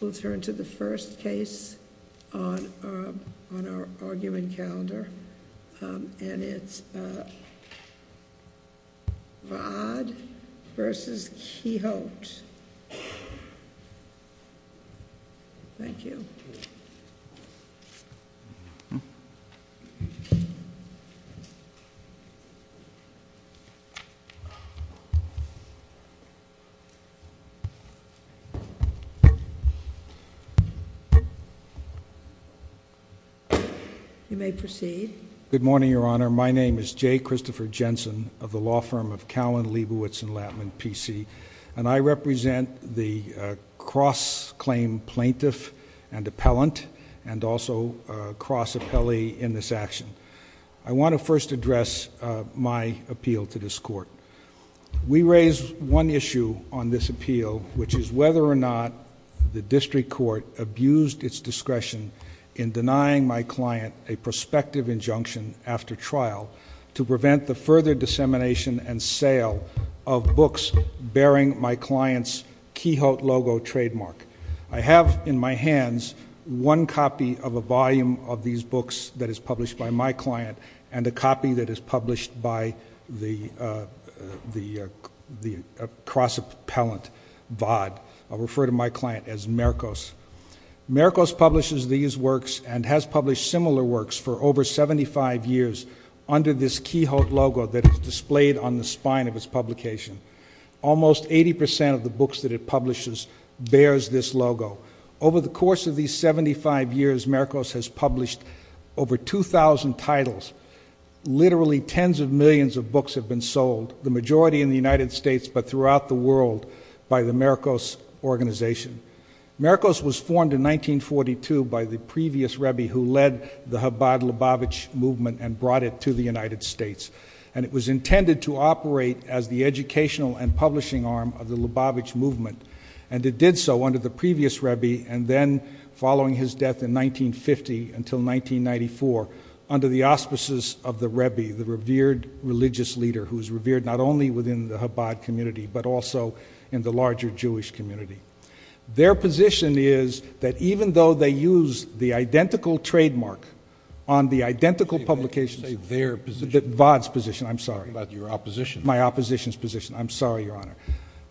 We'll turn to the first case on our argument calendar, and it's Vaad v. Quixote. Thank you. You may proceed. Good morning, Your Honor. My name is J. Christopher Jensen of the law firm of Cowan, Leibowitz, and Lattman, P.C., and I represent the cross-claim plaintiff and appellant and also cross-appellee in this action. I want to first address my appeal to this Court. We raise one issue on this appeal, which is whether or not the district court abused its discretion in denying my client a prospective injunction after trial to prevent the further dissemination and sale of books bearing my client's Quixote logo trademark. I have in my hands one copy of a volume of these books that is published by my client and a copy that is published by the cross-appellant Vaad. I'll refer to my client as Mercos. Mercos publishes these works and has published similar works for over 75 years under this Quixote logo that is displayed on the spine of its publication. Almost 80 percent of the books that it publishes bears this logo. Over the course of these 75 years, Mercos has published over 2,000 titles. Literally tens of millions of books have been sold, the majority in the United States but throughout the world, by the Mercos organization. Mercos was formed in 1942 by the previous Rebbe who led the Chabad-Lubavitch movement and brought it to the United States. And it was intended to operate as the educational and publishing arm of the Lubavitch movement. And it did so under the previous Rebbe and then, following his death in 1950 until 1994, under the auspices of the Rebbe, the revered religious leader who is revered not only within the Chabad community but also in the larger Jewish community. Their position is that even though they use the identical trademark on the identical publication of Vaad's position, I'm sorry, my opposition's position, I'm sorry, Your Honor,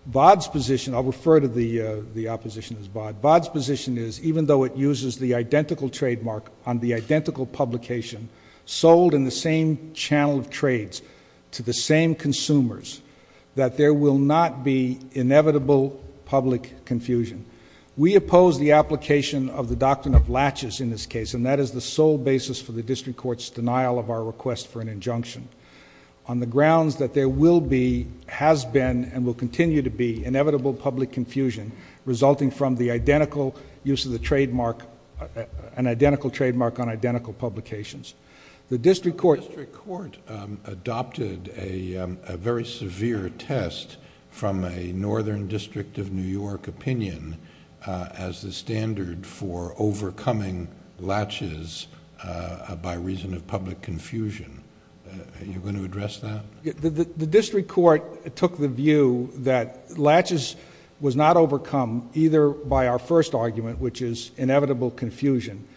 Vaad's position I'll refer to the opposition as Vaad, Vaad's position is even though it uses the identical trademark on the identical publication sold in the same channel of trades to the same consumers that there will not be inevitable public confusion. We oppose the application of the doctrine of latches in this case and that is the sole basis for the district court's denial of our request for an injunction. On the grounds that there will be, has been, and will continue to be inevitable public confusion resulting from the identical use of the trademark, an identical trademark on identical publications. The district court... The district court adopted a very severe test from a northern district of New York opinion as the standard for overcoming latches by reason of public confusion. Are you going to address that? The district court took the view that latches was not overcome either by our first argument which is inevitable confusion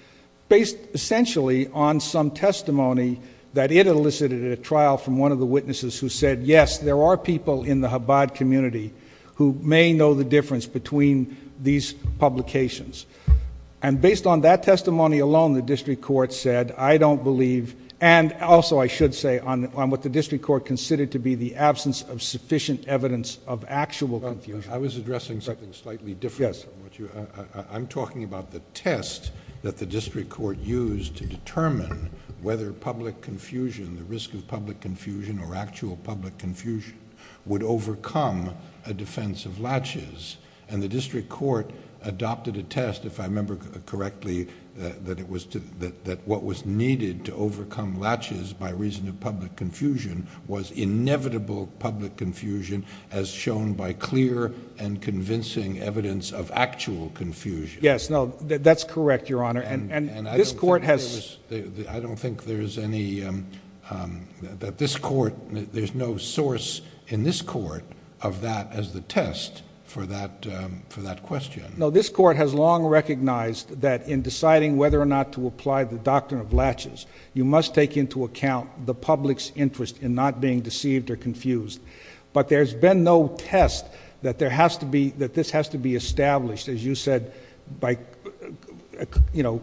based essentially on some testimony that it elicited at a trial from one of the witnesses who said, yes, there are people in the Chabad community who may know the difference between these publications. Based on that testimony alone, the district court said, I don't believe, and also I should say on what the district court considered to be the absence of sufficient evidence of actual confusion... I was addressing something slightly different from what you... Yes. I'm talking about the test that the district court used to determine whether public confusion, the risk of public confusion or actual public confusion would overcome a defense of latches and the district court adopted a test, if I remember correctly, that what was needed to overcome latches by reason of public confusion was inevitable public confusion as shown by clear and convincing evidence of actual confusion. Yes. No. That's correct, Your Honor. This court has... I don't think there's any... that this court, there's no source in this test for that question. No. This court has long recognized that in deciding whether or not to apply the doctrine of latches, you must take into account the public's interest in not being deceived or confused, but there's been no test that this has to be established, as you said, by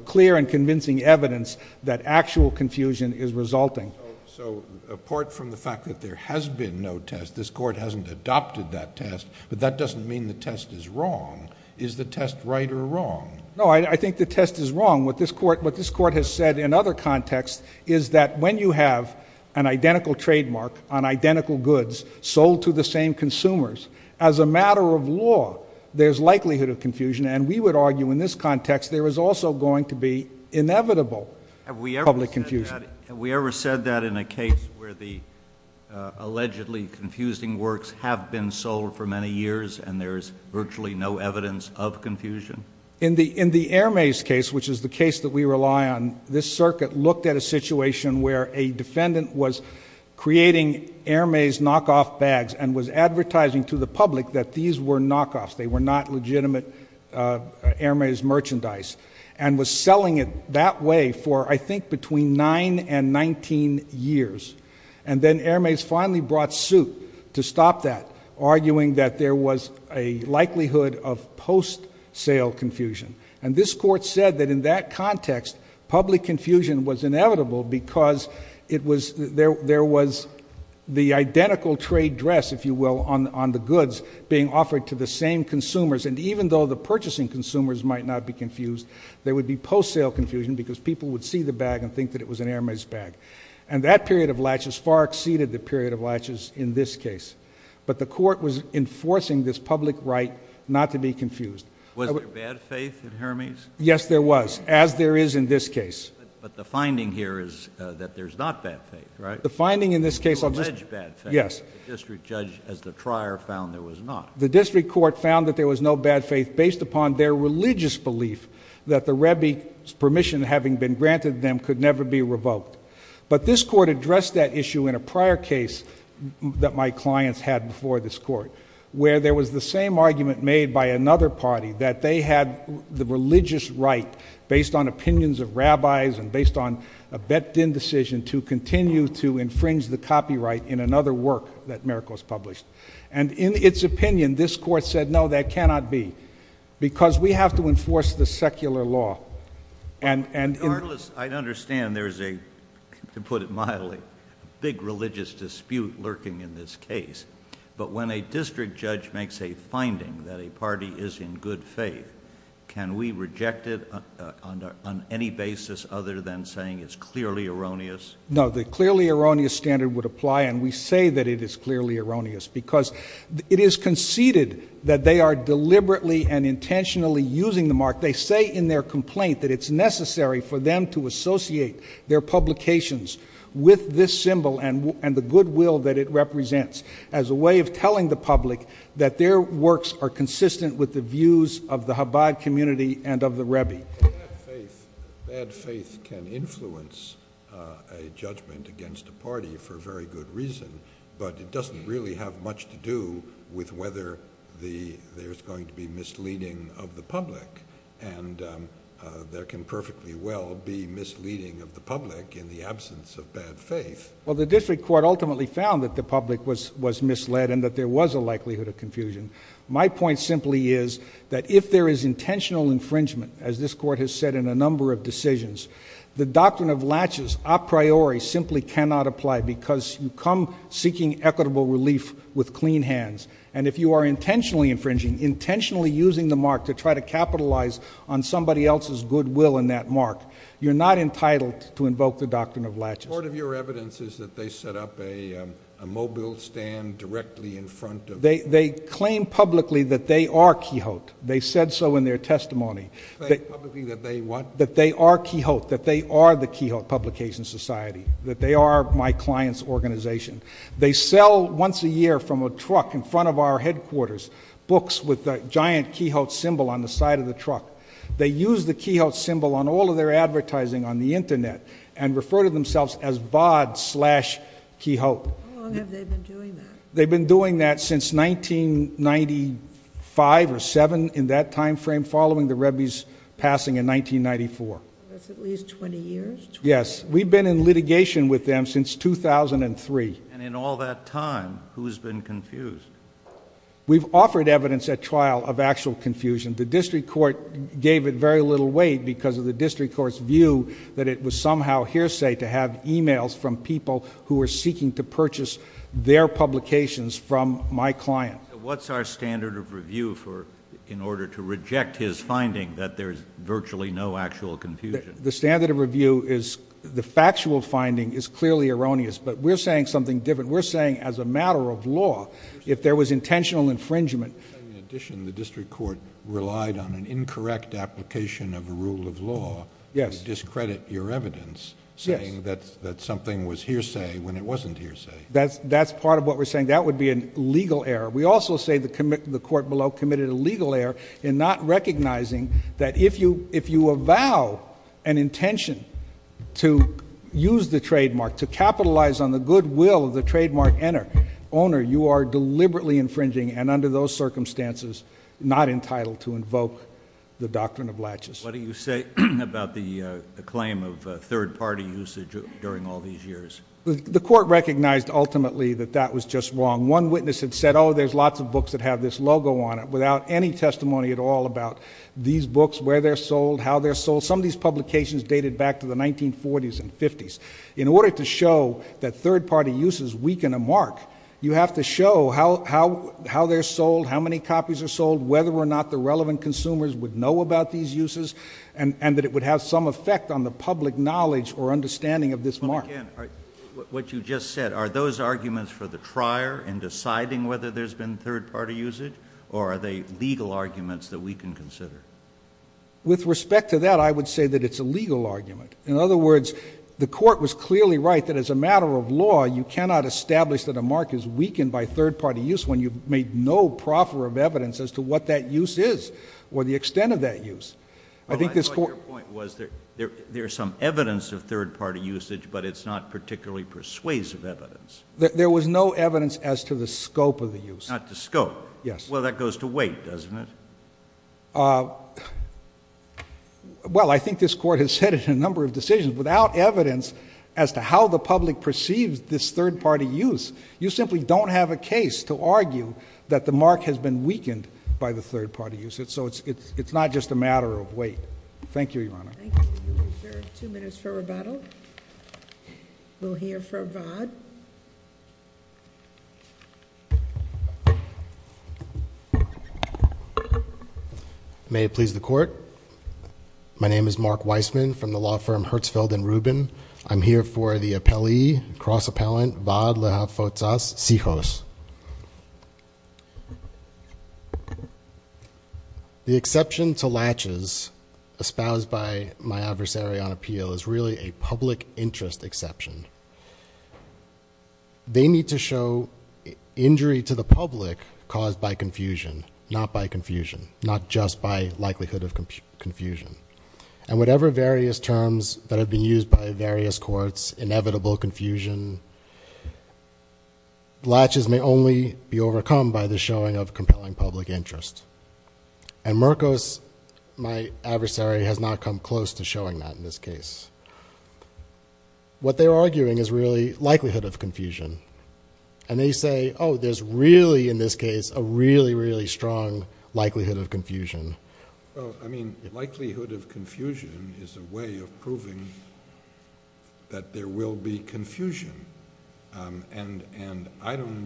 clear and convincing evidence that actual confusion is resulting. So, apart from the fact that there has been no test, this court hasn't adopted that test, but that doesn't mean the test is wrong. Is the test right or wrong? No. I think the test is wrong. What this court has said in other contexts is that when you have an identical trademark on identical goods sold to the same consumers, as a matter of law, there's likelihood of confusion and we would argue in this context there is also going to be inevitable public confusion. Have we ever said that in a case where the allegedly confusing works have been sold for many years and there's virtually no evidence of confusion? In the Air Maze case, which is the case that we rely on, this circuit looked at a situation where a defendant was creating Air Maze knockoff bags and was advertising to the public that these were knockoffs. They were not legitimate Air Maze merchandise and was selling it that way for, I think, between nine and 19 years. And then Air Maze finally brought suit to stop that, arguing that there was a likelihood of post-sale confusion. And this court said that in that context, public confusion was inevitable because there was the identical trade dress, if you will, on the goods being offered to the same consumers. And even though the purchasing consumers might not be confused, there would be post-sale confusion because people would see the bag and think that it was an Air Maze bag. And that period of latches far exceeded the period of latches in this case. But the court was enforcing this public right not to be confused. Was there bad faith in Air Maze? Yes, there was, as there is in this case. But the finding here is that there's not bad faith, right? The finding in this case... You allege bad faith. Yes. The district judge, as the trier, found there was not. The district court found that there was no bad faith based upon their religious belief that the Rebbe's permission having been granted them could never be revoked. But this court addressed that issue in a prior case that my clients had before this court where there was the same argument made by another party that they had the religious right based on opinions of rabbis and based on a bet-then decision to continue to infringe the copyright in another work that Miracles published. And in its opinion, this court said, no, that cannot be. Because we have to enforce the secular law. And in... I understand there's a, to put it mildly, big religious dispute lurking in this case. But when a district judge makes a finding that a party is in good faith, can we reject it on any basis other than saying it's clearly erroneous? No, the clearly erroneous standard would apply, and we say that it is clearly erroneous. Because it is conceded that they are deliberately and intentionally using the mark. They say in their complaint that it's necessary for them to associate their publications with this symbol and the goodwill that it represents as a way of telling the public that their works are consistent with the views of the Chabad community and of the Rebbe. Bad faith can influence a judgment against a party for a very good reason, but it doesn't really have much to do with whether there's going to be misleading of the public. And there can perfectly well be misleading of the public in the absence of bad faith. Well, the district court ultimately found that the public was misled and that there was a likelihood of confusion. My point simply is that if there is intentional infringement, as this court has said in a number of decisions, the doctrine of laches a priori simply cannot apply because you come seeking equitable relief with clean hands. And if you are intentionally infringing, intentionally using the mark to try to capitalize on somebody else's goodwill in that mark, you're not entitled to invoke the doctrine of laches. The court of your evidence is that they set up a mobile stand directly in front of— They claim publicly that they are Quixote. They said so in their testimony. They claim publicly that they what? That they are Quixote, that they are the Quixote Publications Society, that they are my client's organization. They sell once a year from a truck in front of our headquarters books with the giant Quixote symbol on the side of the truck. They use the Quixote symbol on all of their advertising on the internet and refer to themselves as BOD slash Quixote. How long have they been doing that? They've been doing that since 1995 or 7 in that time frame following the Rebbe's passing in 1994. That's at least 20 years? Yes. We've been in litigation with them since 2003. In all that time, who's been confused? We've offered evidence at trial of actual confusion. The district court gave it very little weight because of the district court's view that it was somehow hearsay to have emails from people who were seeking to purchase their publications from my client. What's our standard of review in order to reject his finding that there's virtually no actual confusion? The standard of review is the factual finding is clearly erroneous, but we're saying something different. We're saying as a matter of law, if there was intentional infringement- In addition, the district court relied on an incorrect application of a rule of law to discredit your evidence saying that something was hearsay when it wasn't hearsay. That's part of what we're saying. That would be a legal error. We also say the court below committed a legal error in not recognizing that if you avow an intention to use the trademark, to capitalize on the goodwill of the trademark owner, you are deliberately infringing and under those circumstances not entitled to invoke the doctrine of latches. What do you say about the claim of third-party usage during all these years? The court recognized ultimately that that was just wrong. One witness had said, oh, there's lots of books that have this logo on it without any testimony at all about these books, where they're sold, how they're sold. Some of these publications dated back to the 1940s and 50s. In order to show that third-party uses weaken a mark, you have to show how they're sold, how many copies are sold, whether or not the relevant consumers would know about these uses and that it would have some effect on the public knowledge or understanding of this mark. Again, what you just said, are those arguments for the trier in deciding whether there's been third-party usage or are they legal arguments that we can consider? With respect to that, I would say that it's a legal argument. In other words, the court was clearly right that as a matter of law, you cannot establish that a mark is weakened by third-party use when you've made no proffer of evidence as to what that use is or the extent of that use. I thought your point was there's some evidence of third-party usage, but it's not particularly persuasive evidence. There was no evidence as to the scope of the use. Not the scope? Yes. Well, that goes to wait, doesn't it? Well, I think this court has said it in a number of decisions. Without evidence as to how the public perceives this third-party use, you simply don't have a case to argue that the mark has been weakened by the third-party use. It's not just a matter of wait. Thank you, Your Honor. Thank you. We'll reserve two minutes for rebuttal. We'll hear from Vaught. May it please the court. My name is Mark Weissman from the law firm Hertzfeld & Rubin. I'm here for the appellee, cross-appellant Vaught Lehafotas Sijhos. The exception to latches espoused by my adversary on appeal is really a public interest exception. They need to show injury to the public caused by confusion, not by confusion, not just by likelihood of confusion. And whatever various terms that have been used by various courts, inevitable confusion, latches may only be overcome by the showing of compelling public interest. And Merkos, my adversary, has not come close to showing that in this case. What they're arguing is really likelihood of confusion. And they say, oh, there's really, in this case, a really, really strong likelihood of confusion. Well, I mean, likelihood of confusion is a way of proving that there will be confusion. And I don't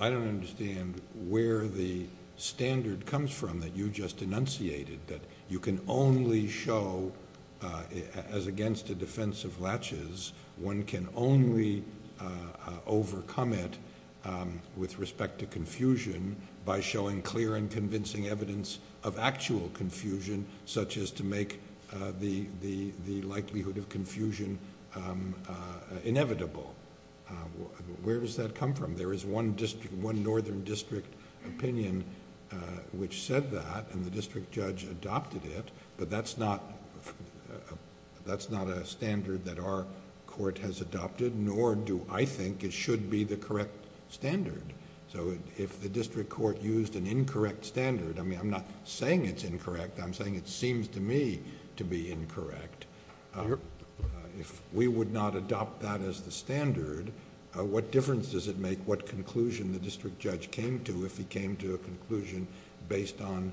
understand where the standard comes from that you just enunciated, that you can only show, as against a defense of latches, one can only overcome it with respect to confusion by showing clear and convincing evidence of actual confusion, such as to make the likelihood of confusion inevitable. Where does that come from? There is one northern district opinion which said that and the district judge adopted it, but that's not a standard that our court has adopted, nor do I think it should be the correct standard. So, if the district court used an incorrect standard, I mean, I'm not saying it's incorrect, I'm saying it seems to me to be incorrect, if we would not adopt that as the standard, what difference does it make what conclusion the district judge came to if he came to a conclusion based on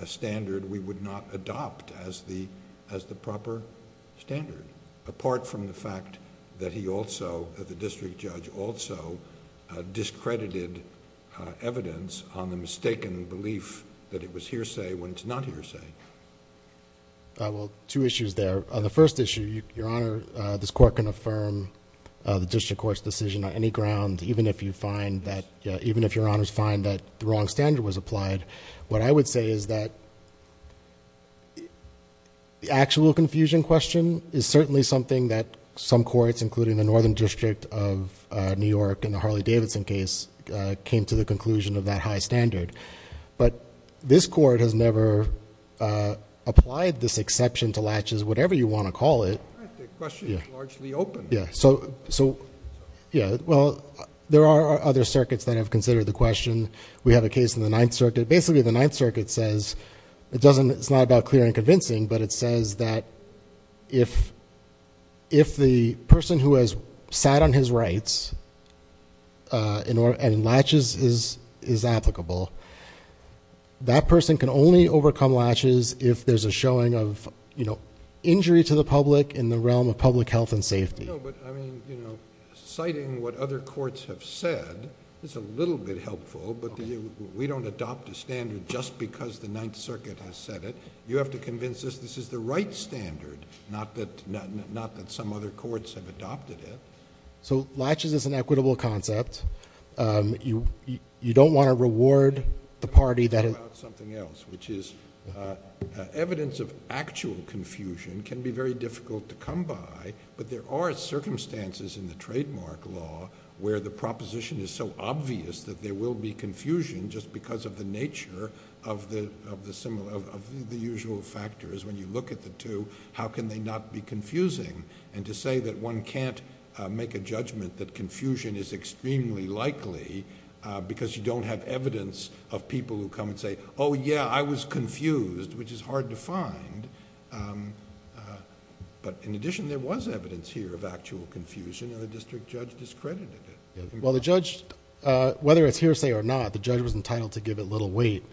a standard we would not adopt as the proper standard, apart from the fact that he also, that the district judge also discredited evidence on the mistaken belief that it was hearsay when it's not hearsay. Well, two issues there. The first issue, Your Honor, this court can affirm the district court's decision on any ground even if Your Honors find that the wrong standard was applied. What I would say is that the actual confusion question is certainly something that some courts including the northern district of New York in the Harley-Davidson case came to the conclusion of that high standard, but this court has never applied this exception to latches, whatever you want to call it... The question is largely open. Yeah. Well, there are other circuits that have considered the question. We have a case in the Ninth Circuit. Basically, the Ninth Circuit says, it's not about clear and convincing, but it says that if the person who has sat on his rights and latches is applicable, that person can only overcome latches if there's a showing of injury to the public in the realm of public health and safety. No, but, I mean, citing what other courts have said is a little bit helpful, but we don't adopt a standard just because the Ninth Circuit has said it. You have to convince us this is the right standard, not that some other courts have adopted it. So latches is an equitable concept. You don't want to reward the party that... Something else, which is evidence of actual confusion can be very difficult to come by, but there are circumstances in the trademark law where the proposition is so obvious that there will be confusion just because of the nature of the usual factors. When you look at the two, how can they not be confusing? And to say that one can't make a judgment that confusion is extremely likely because you don't have evidence of people who come and say, oh, yeah, I was confused, which is evidence here of actual confusion, and the district judge discredited it. I think that's... Well, the judge, whether it's hearsay or not, the judge was entitled to give it little weight,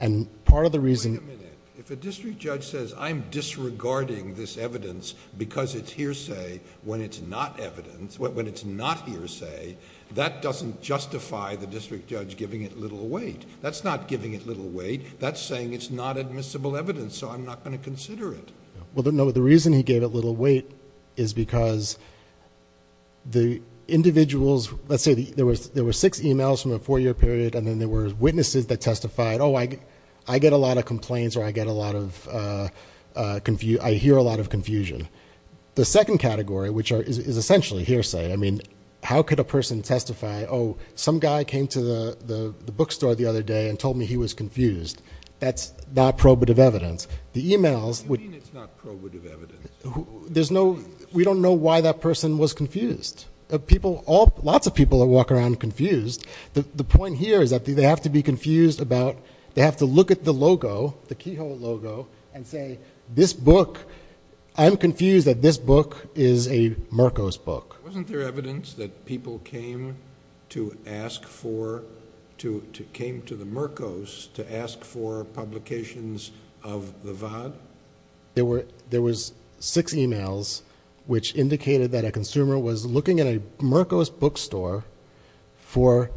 and part of the reason... Wait a minute. If a district judge says, I'm disregarding this evidence because it's hearsay when it's not evidence, when it's not hearsay, that doesn't justify the district judge giving it little weight. That's not giving it little weight. That's saying it's not admissible evidence, so I'm not going to consider it. Well, no, the reason he gave it little weight is because the individuals... let's say there were six emails from a four-year period, and then there were witnesses that testified, oh, I get a lot of complaints or I get a lot of... I hear a lot of confusion. The second category, which is essentially hearsay, I mean, how could a person testify, oh, some guy came to the bookstore the other day and told me he was confused. That's not probative evidence. The emails... What do you mean it's not probative evidence? We don't know why that person was confused. Lots of people walk around confused. The point here is that they have to be confused about... they have to look at the logo, the Keyhole logo, and say, this book... I'm confused that this book is a Mercos book. Wasn't there evidence that people came to ask for... came to the Mercos to ask for the Vaad? There were... there was six emails which indicated that a consumer was looking at a Mercos bookstore for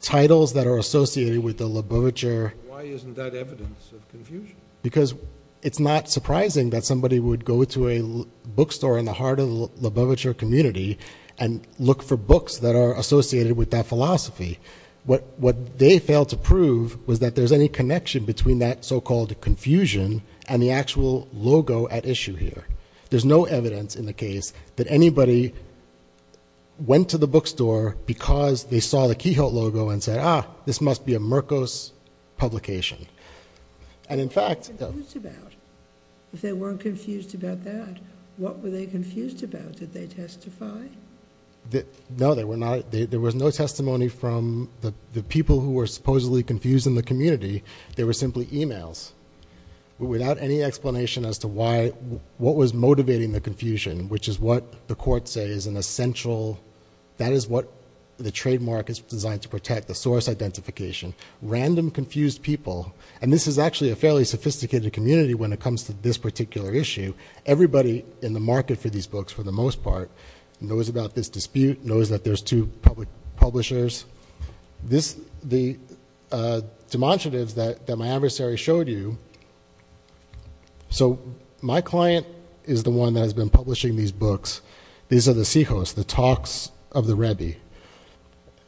titles that are associated with the Labovitcher... Why isn't that evidence of confusion? Because it's not surprising that somebody would go to a bookstore in the heart of the Labovitcher community and look for books that are associated with that philosophy. What they failed to prove was that there's any connection between that so-called confusion and the actual logo at issue here. There's no evidence in the case that anybody went to the bookstore because they saw the Keyhole logo and said, ah, this must be a Mercos publication. And in fact... What were they confused about? If they weren't confused about that, what were they confused about? Did they testify? No, they were not... there was no testimony from the people who were supposedly confused in the community. They were simply emails without any explanation as to why... what was motivating the confusion, which is what the court says is an essential... that is what the trademark is designed to protect, the source identification. Random confused people... and this is actually a fairly sophisticated community when it comes to this particular issue. Everybody in the market for these books, for the most part, knows about this dispute, knows that there's two public publishers. This... the demonstratives that my adversary showed you... So my client is the one that has been publishing these books. These are the Cjos, the talks of the Rebbi,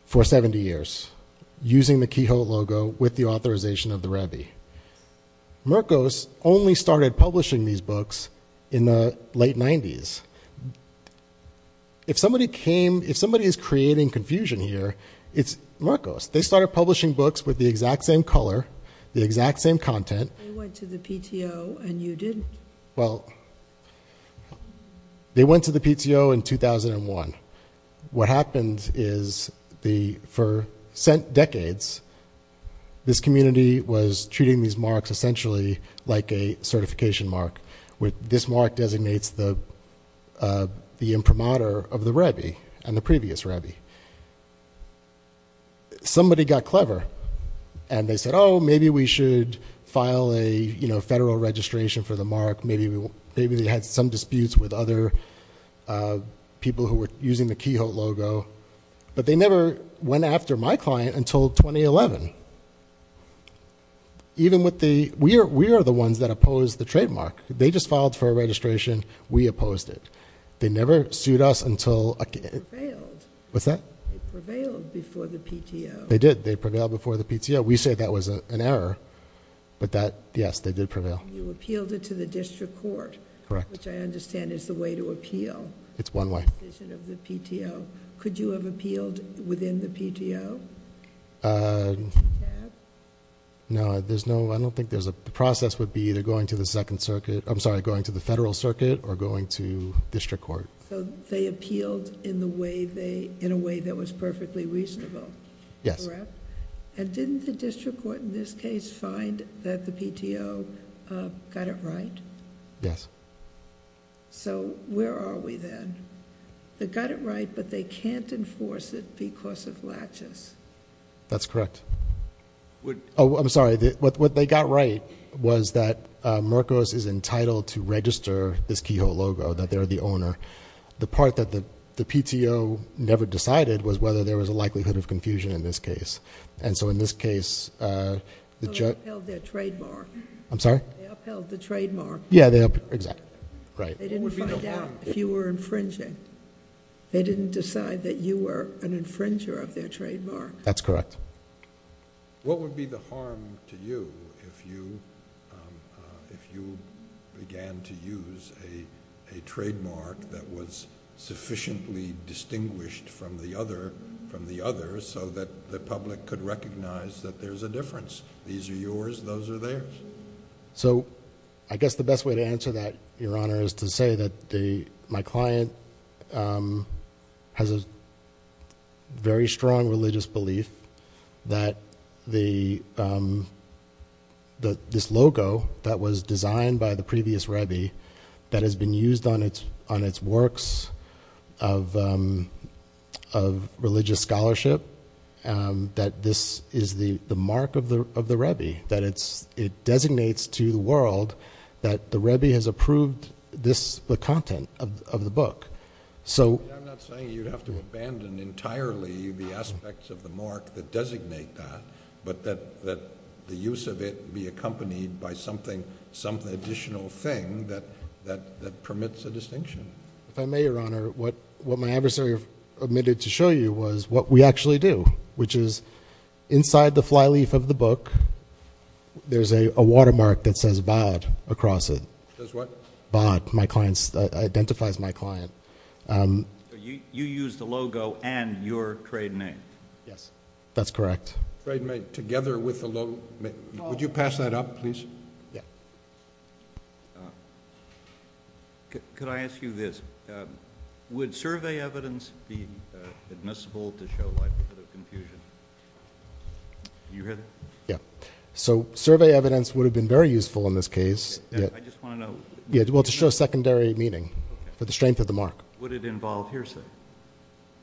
for 70 years, using the Keyhole logo with the authorization of the Rebbi. Mercos only started publishing these books in the late 90s. If somebody came... if somebody is creating confusion here, it's Mercos. They started publishing books with the exact same color, the exact same content. They went to the PTO and you didn't. Well, they went to the PTO in 2001. What happened is the... for decades, this community was treating these marks essentially like a certification mark. This mark designates the imprimatur of the Rebbi and the previous Rebbi. Somebody got clever and they said, oh, maybe we should file a federal registration for the mark. Maybe they had some disputes with other people who were using the Keyhole logo. But they never went after my client until 2011. Even with the... we are the ones that opposed the trademark. They just filed for a registration. We opposed it. They never sued us until... They prevailed. What's that? They prevailed before the PTO. They did. They prevailed before the PTO. We say that was an error, but that... yes, they did prevail. You appealed it to the district court. Correct. Which I understand is the way to appeal... It's one way.... the decision of the PTO. Could you have appealed within the PTO? No, there's no... I don't think there's a... the process would be either going to the second circuit. I'm sorry, going to the federal circuit or going to district court. They appealed in a way that was perfectly reasonable. Yes. Correct? Didn't the district court in this case find that the PTO got it right? Yes. Where are we then? They got it right, but they can't enforce it because of latches. That's correct. I'm sorry, what they got right was that Mercos is entitled to register this keyhole logo, that they're the owner. The part that the PTO never decided was whether there was a likelihood of confusion in this case. In this case... They upheld their trademark. I'm sorry? They upheld the trademark. Exactly. Right. There would be no harm... They didn't find out if you were infringing. They didn't decide that you were an infringer of their trademark. That's correct. What would be the harm to you if you began to use a trademark that was sufficiently distinguished from the other so that the public could recognize that there's a difference? These are yours. Those are theirs. I guess the best way to answer that, Your Honor, is to say that my client has a very strong religious belief that this logo that was designed by the previous Rebbe that has been used on its works of religious scholarship, that this is the mark of the Rebbe, that it designates to the world that the Rebbe has approved the content of the book. I'm not saying you'd have to abandon entirely the aspects of the mark that designate that, but that the use of it be accompanied by some additional thing that permits a distinction. If I may, Your Honor, what my adversary omitted to show you was what we actually do, which is inside the flyleaf of the book, there's a watermark that says BAD across it. Says what? BAD. My client's... identifies my client. You used the logo and your trade name. Yes. That's correct. Trade name together with the logo. Would you pass that up, please? Yeah. Could I ask you this? Would survey evidence be admissible to show likelihood of confusion? You hear that? Yeah. So, survey evidence would have been very useful in this case. I just want to know... Yeah, well, to show secondary meaning for the strength of the mark. Would it involve hearsay?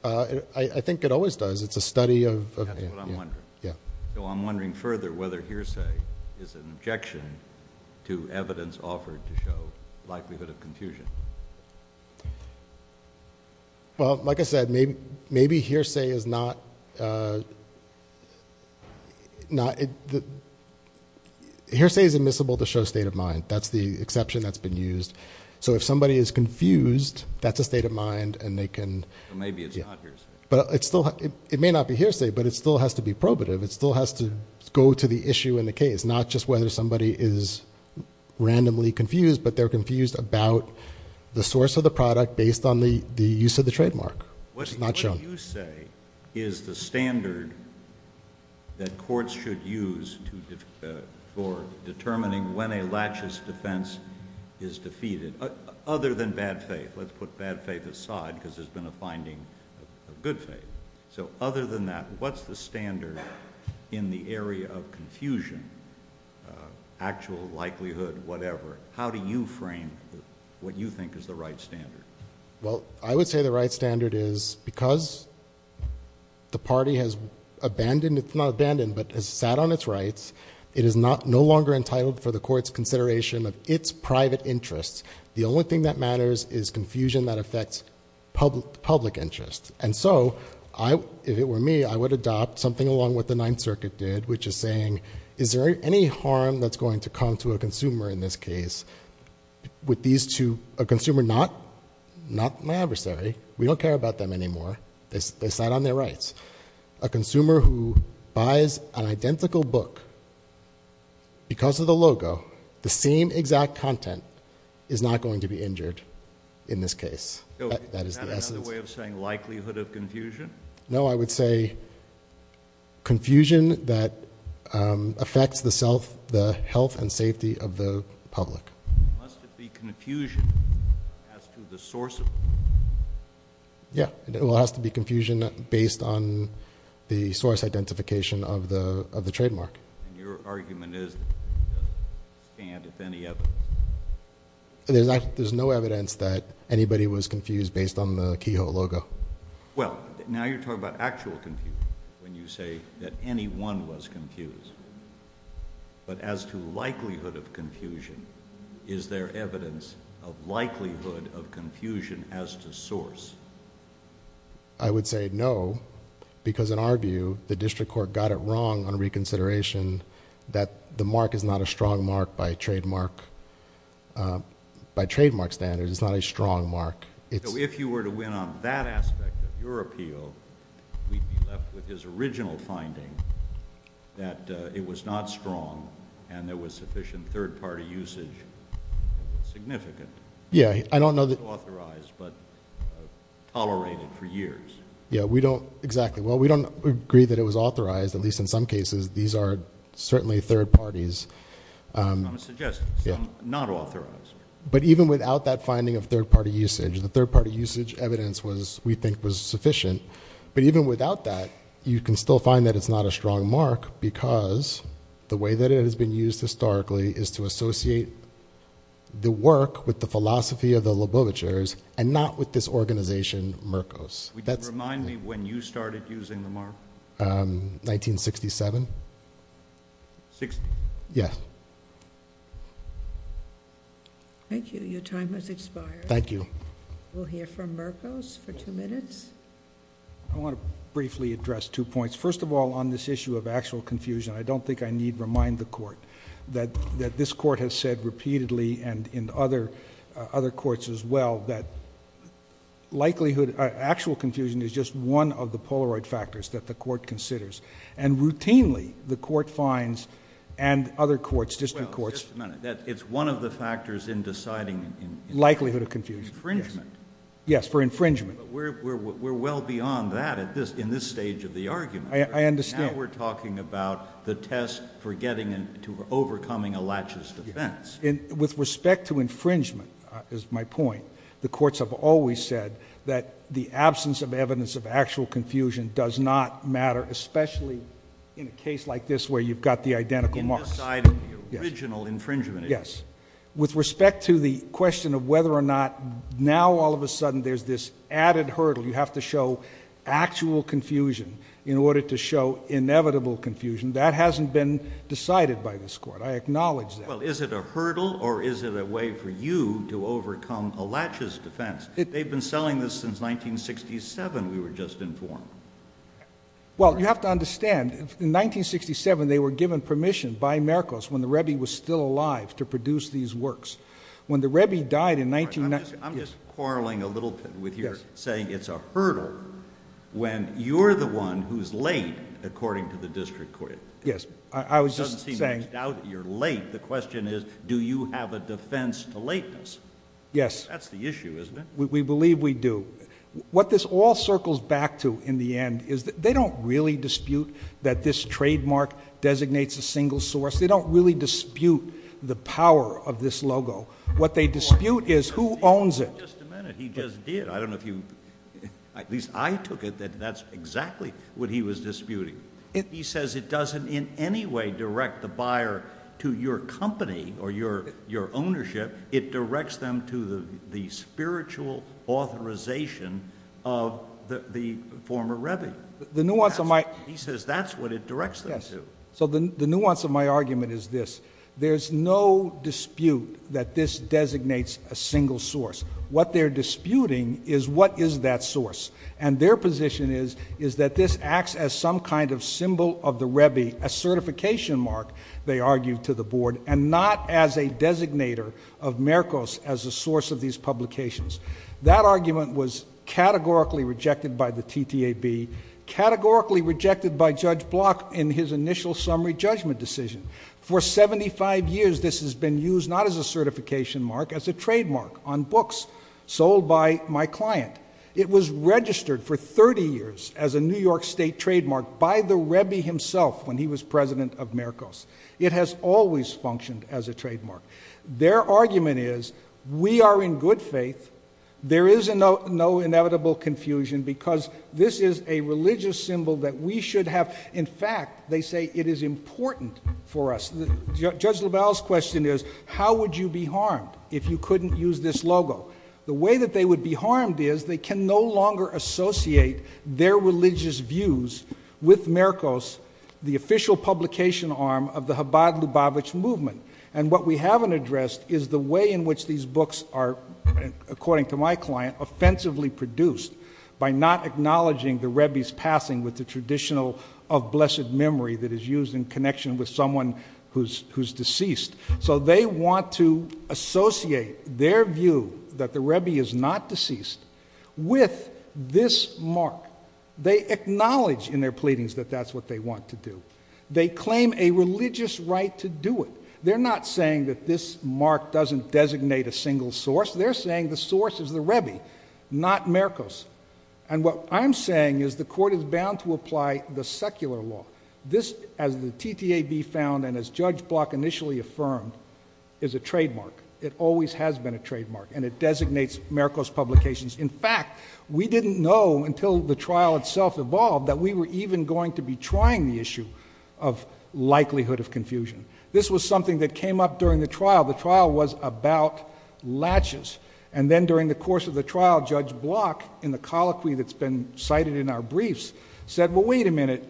I think it always does. It's a study of... That's what I'm wondering. Yeah. So, I'm wondering further whether hearsay is an objection to evidence offered to show likelihood of confusion. Well, like I said, maybe hearsay is not... Hearsay is admissible to show state of mind. That's the exception that's been used. So, if somebody is confused, that's a state of mind, and they can... Maybe it's not hearsay. But it still... It may not be hearsay, but it still has to be probative. It still has to go to the issue in the case, not just whether somebody is randomly confused, but they're confused about the source of the product based on the use of the trademark, which is not shown. What you say is the standard that courts should use for determining when a laches defense is defeated, other than bad faith. Let's put bad faith aside because there's been a finding of good faith. So, other than that, what's the standard in the area of confusion, actual likelihood, whatever? How do you frame what you think is the right standard? Well, I would say the right standard is because the party has abandoned... It's not abandoned, but has sat on its rights. It is no longer entitled for the court's consideration of its private interests. The only thing that matters is confusion that affects public interest. And so, if it were me, I would adopt something along with the Ninth Circuit did, which is saying, is there any harm that's going to come to a consumer in this case with these two... A consumer not my adversary. We don't care about them anymore. They sat on their rights. A consumer who buys an identical book because of the logo, the same exact content, is not going to be injured in this case. That is the essence. Is that another way of saying likelihood of confusion? No. I would say confusion that affects the health and safety of the public. Must it be confusion as to the source of... Yeah. It has to be confusion based on the source identification of the trademark. And your argument is that it doesn't stand with any evidence. There's no evidence that anybody was confused based on the Kehoe logo. Well, now you're talking about actual confusion when you say that anyone was confused. But as to likelihood of confusion, is there evidence of likelihood of confusion as to source? I would say no, because in our view, the district court got it wrong on reconsideration that the mark is not a strong mark by trademark standards. It's not a strong mark. So if you were to win on that aspect of your appeal, we'd be left with his original finding that it was not strong and there was sufficient third-party usage. It was significant. Yeah. I don't know that... Not authorized, but tolerated for years. Yeah. We don't... Exactly. Well, we don't agree that it was authorized, at least in some cases. These are certainly third parties. I'm going to suggest not authorized. But even without that finding of third-party usage, the third-party usage evidence was, we think, was sufficient. But even without that, you can still find that it's not a strong mark because the way that it has been used historically is to associate the work with the philosophy of the Lobovitchers and not with this organization, Mercos. Would you remind me when you started using the mark? 1967. Sixty? Yeah. Thank you. Your time has expired. Thank you. We'll hear from Mercos for two minutes. I want to briefly address two points. First of all, on this issue of actual confusion, I don't think I need to remind the court that this court has said repeatedly and in other courts as well that likelihood, actual confusion is just one of the Polaroid factors that the court considers. And routinely, the court finds and other courts, district courts. Well, just a minute. It's one of the factors in deciding. Likelihood of confusion. Infringement. Yes, for infringement. But we're well beyond that in this stage of the argument. I understand. Now we're talking about the test for getting to overcoming a latches defense. With respect to infringement, is my point, the courts have always said that the absence of evidence of actual confusion does not matter, especially in a case like this where you've got the identical marks. In deciding the original infringement. Yes. With respect to the question of whether or not now all of a sudden there's this added hurdle. You have to show actual confusion in order to show inevitable confusion. That hasn't been decided by this court. I acknowledge that. Well, is it a hurdle or is it a way for you to overcome a latches defense? They've been selling this since 1967, we were just informed. Well, you have to understand. In 1967, they were given permission by Merkos when the Rebbe was still alive to produce these works. When the Rebbe died in... I'm just quarreling a little bit with your saying it's a hurdle when you're the one who's late, according to the district court. Yes. I was just saying... The question is, do you have a defense to lateness? Yes. That's the issue, isn't it? We believe we do. What this all circles back to in the end is that they don't really dispute that this trademark designates a single source. They don't really dispute the power of this logo. What they dispute is who owns it. Just a minute. He just did. I don't know if you... At least I took it that that's exactly what he was disputing. He says it doesn't in any way direct the buyer to your company or your ownership. It directs them to the spiritual authorization of the former Rebbe. The nuance of my... He says that's what it directs them to. Yes. So the nuance of my argument is this. There's no dispute that this designates a single source. What they're disputing is what is that source. Their position is that this acts as some kind of symbol of the Rebbe, a certification mark, they argue to the board, and not as a designator of Mercos as a source of these publications. That argument was categorically rejected by the TTAB, categorically rejected by Judge Block in his initial summary judgment decision. For 75 years, this has been used not as a certification mark, as a trademark on books sold by my client. It was registered for 30 years as a New York State trademark by the Rebbe himself when he was president of Mercos. It has always functioned as a trademark. Their argument is we are in good faith. There is no inevitable confusion because this is a religious symbol that we should have. In fact, they say it is important for us. Judge LaValle's question is how would you be harmed if you couldn't use this logo? The way that they would be harmed is they can no longer associate their religious views with Mercos, the official publication arm of the Chabad Lubavitch movement. What we haven't addressed is the way in which these books are, according to my client, offensively produced by not acknowledging the Rebbe's passing with the traditional of blessed memory that is used in connection with someone who is deceased. They want to associate their view that the Rebbe is not deceased with this mark. They acknowledge in their pleadings that that is what they want to do. They claim a religious right to do it. They are not saying that this mark doesn't designate a single source. They are saying the source is the Rebbe, not Mercos. What I am saying is the court is bound to apply the secular law. This, as the TTAB found and as Judge Block initially affirmed, is a trademark. It always has been a trademark and it designates Mercos publications. In fact, we didn't know until the trial itself evolved that we were even going to be trying the issue of likelihood of confusion. This was something that came up during the trial. The trial was about latches. Then during the course of the trial, Judge Block, in the colloquy that's been cited in our briefs, said, well, wait a minute.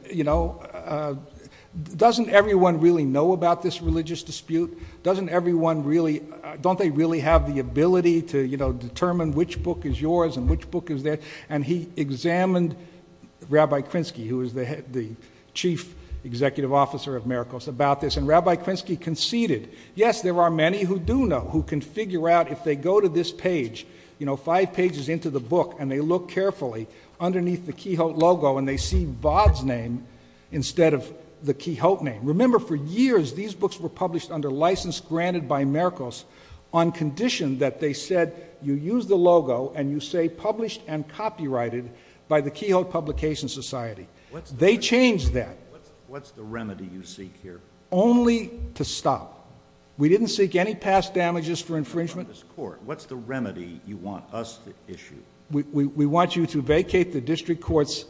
Doesn't everyone really know about this religious dispute? Don't they really have the ability to determine which book is yours and which book is theirs? He examined Rabbi Krinsky, who is the chief executive officer of Mercos, about this. Rabbi Krinsky conceded, yes, there are many who do know, who can figure out if they go to this page, five pages into the book, and they look carefully, underneath the Quixote logo, and they see Vod's name instead of the Quixote name. Remember, for years, these books were published under license granted by Mercos on condition that they said, you use the logo and you say published and copyrighted by the Quixote Publication Society. They changed that. What's the remedy you seek here? Only to stop. We didn't seek any past damages for infringement. What's the remedy you want us to issue? We want you to vacate the district court's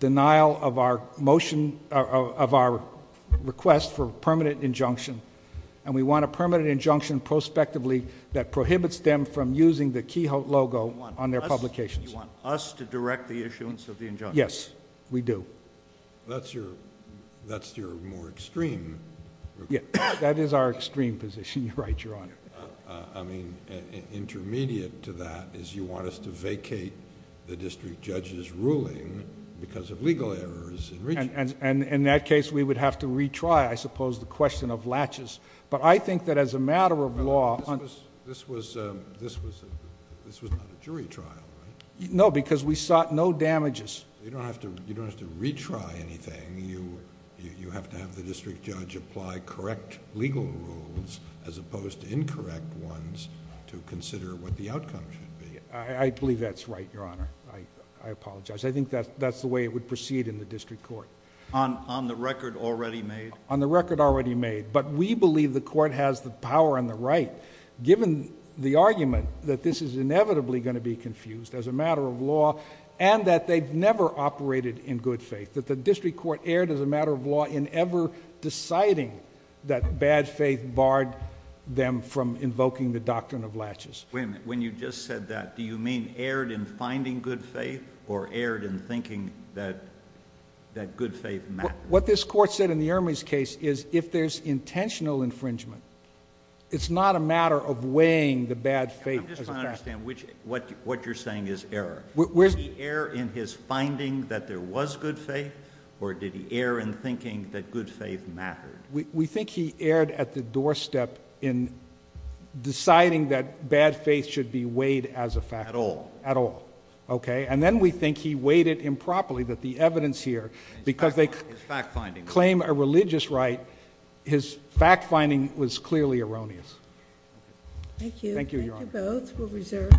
denial of our request for permanent injunction, and we want a permanent injunction prospectively that prohibits them from using the Quixote logo on their publications. You want us to direct the issuance of the injunction? Yes, we do. That's your more extreme... Yes, that is our extreme position, Your Honor. Intermediate to that is you want us to vacate the district judge's ruling because of legal errors. In that case, we would have to retry, I suppose, the question of latches. I think that as a matter of law... This was not a jury trial, right? No, because we sought no damages. You don't have to retry anything. You have to have the district judge apply correct legal rules as opposed to incorrect ones to consider what the outcome should be. I believe that's right, Your Honor. I apologize. I think that's the way it would proceed in the district court. On the record already made? On the record already made, but we believe the court has the power on the right given the argument that this is inevitably going to be confused as a matter of law and that they've never operated in good faith, that the district court erred as a matter of law in ever deciding that bad faith barred them from invoking the doctrine of latches. Wait a minute. When you just said that, do you mean erred in finding good faith or erred in thinking that good faith mattered? What this court said in the Ermey's case is if there's intentional infringement, it's not a matter of weighing the bad faith as a factor. I'm just trying to understand what you're saying is error. Did he err in his finding that there was good faith or did he err in thinking that good faith mattered? We think he erred at the doorstep in deciding that bad faith should be weighed as a factor. At all? At all. Okay. And then we think he weighed it improperly that the evidence here because they claim a religious right, his fact finding was clearly erroneous. Thank you. Thank you, Your Honor. Thank you both. We'll reserve.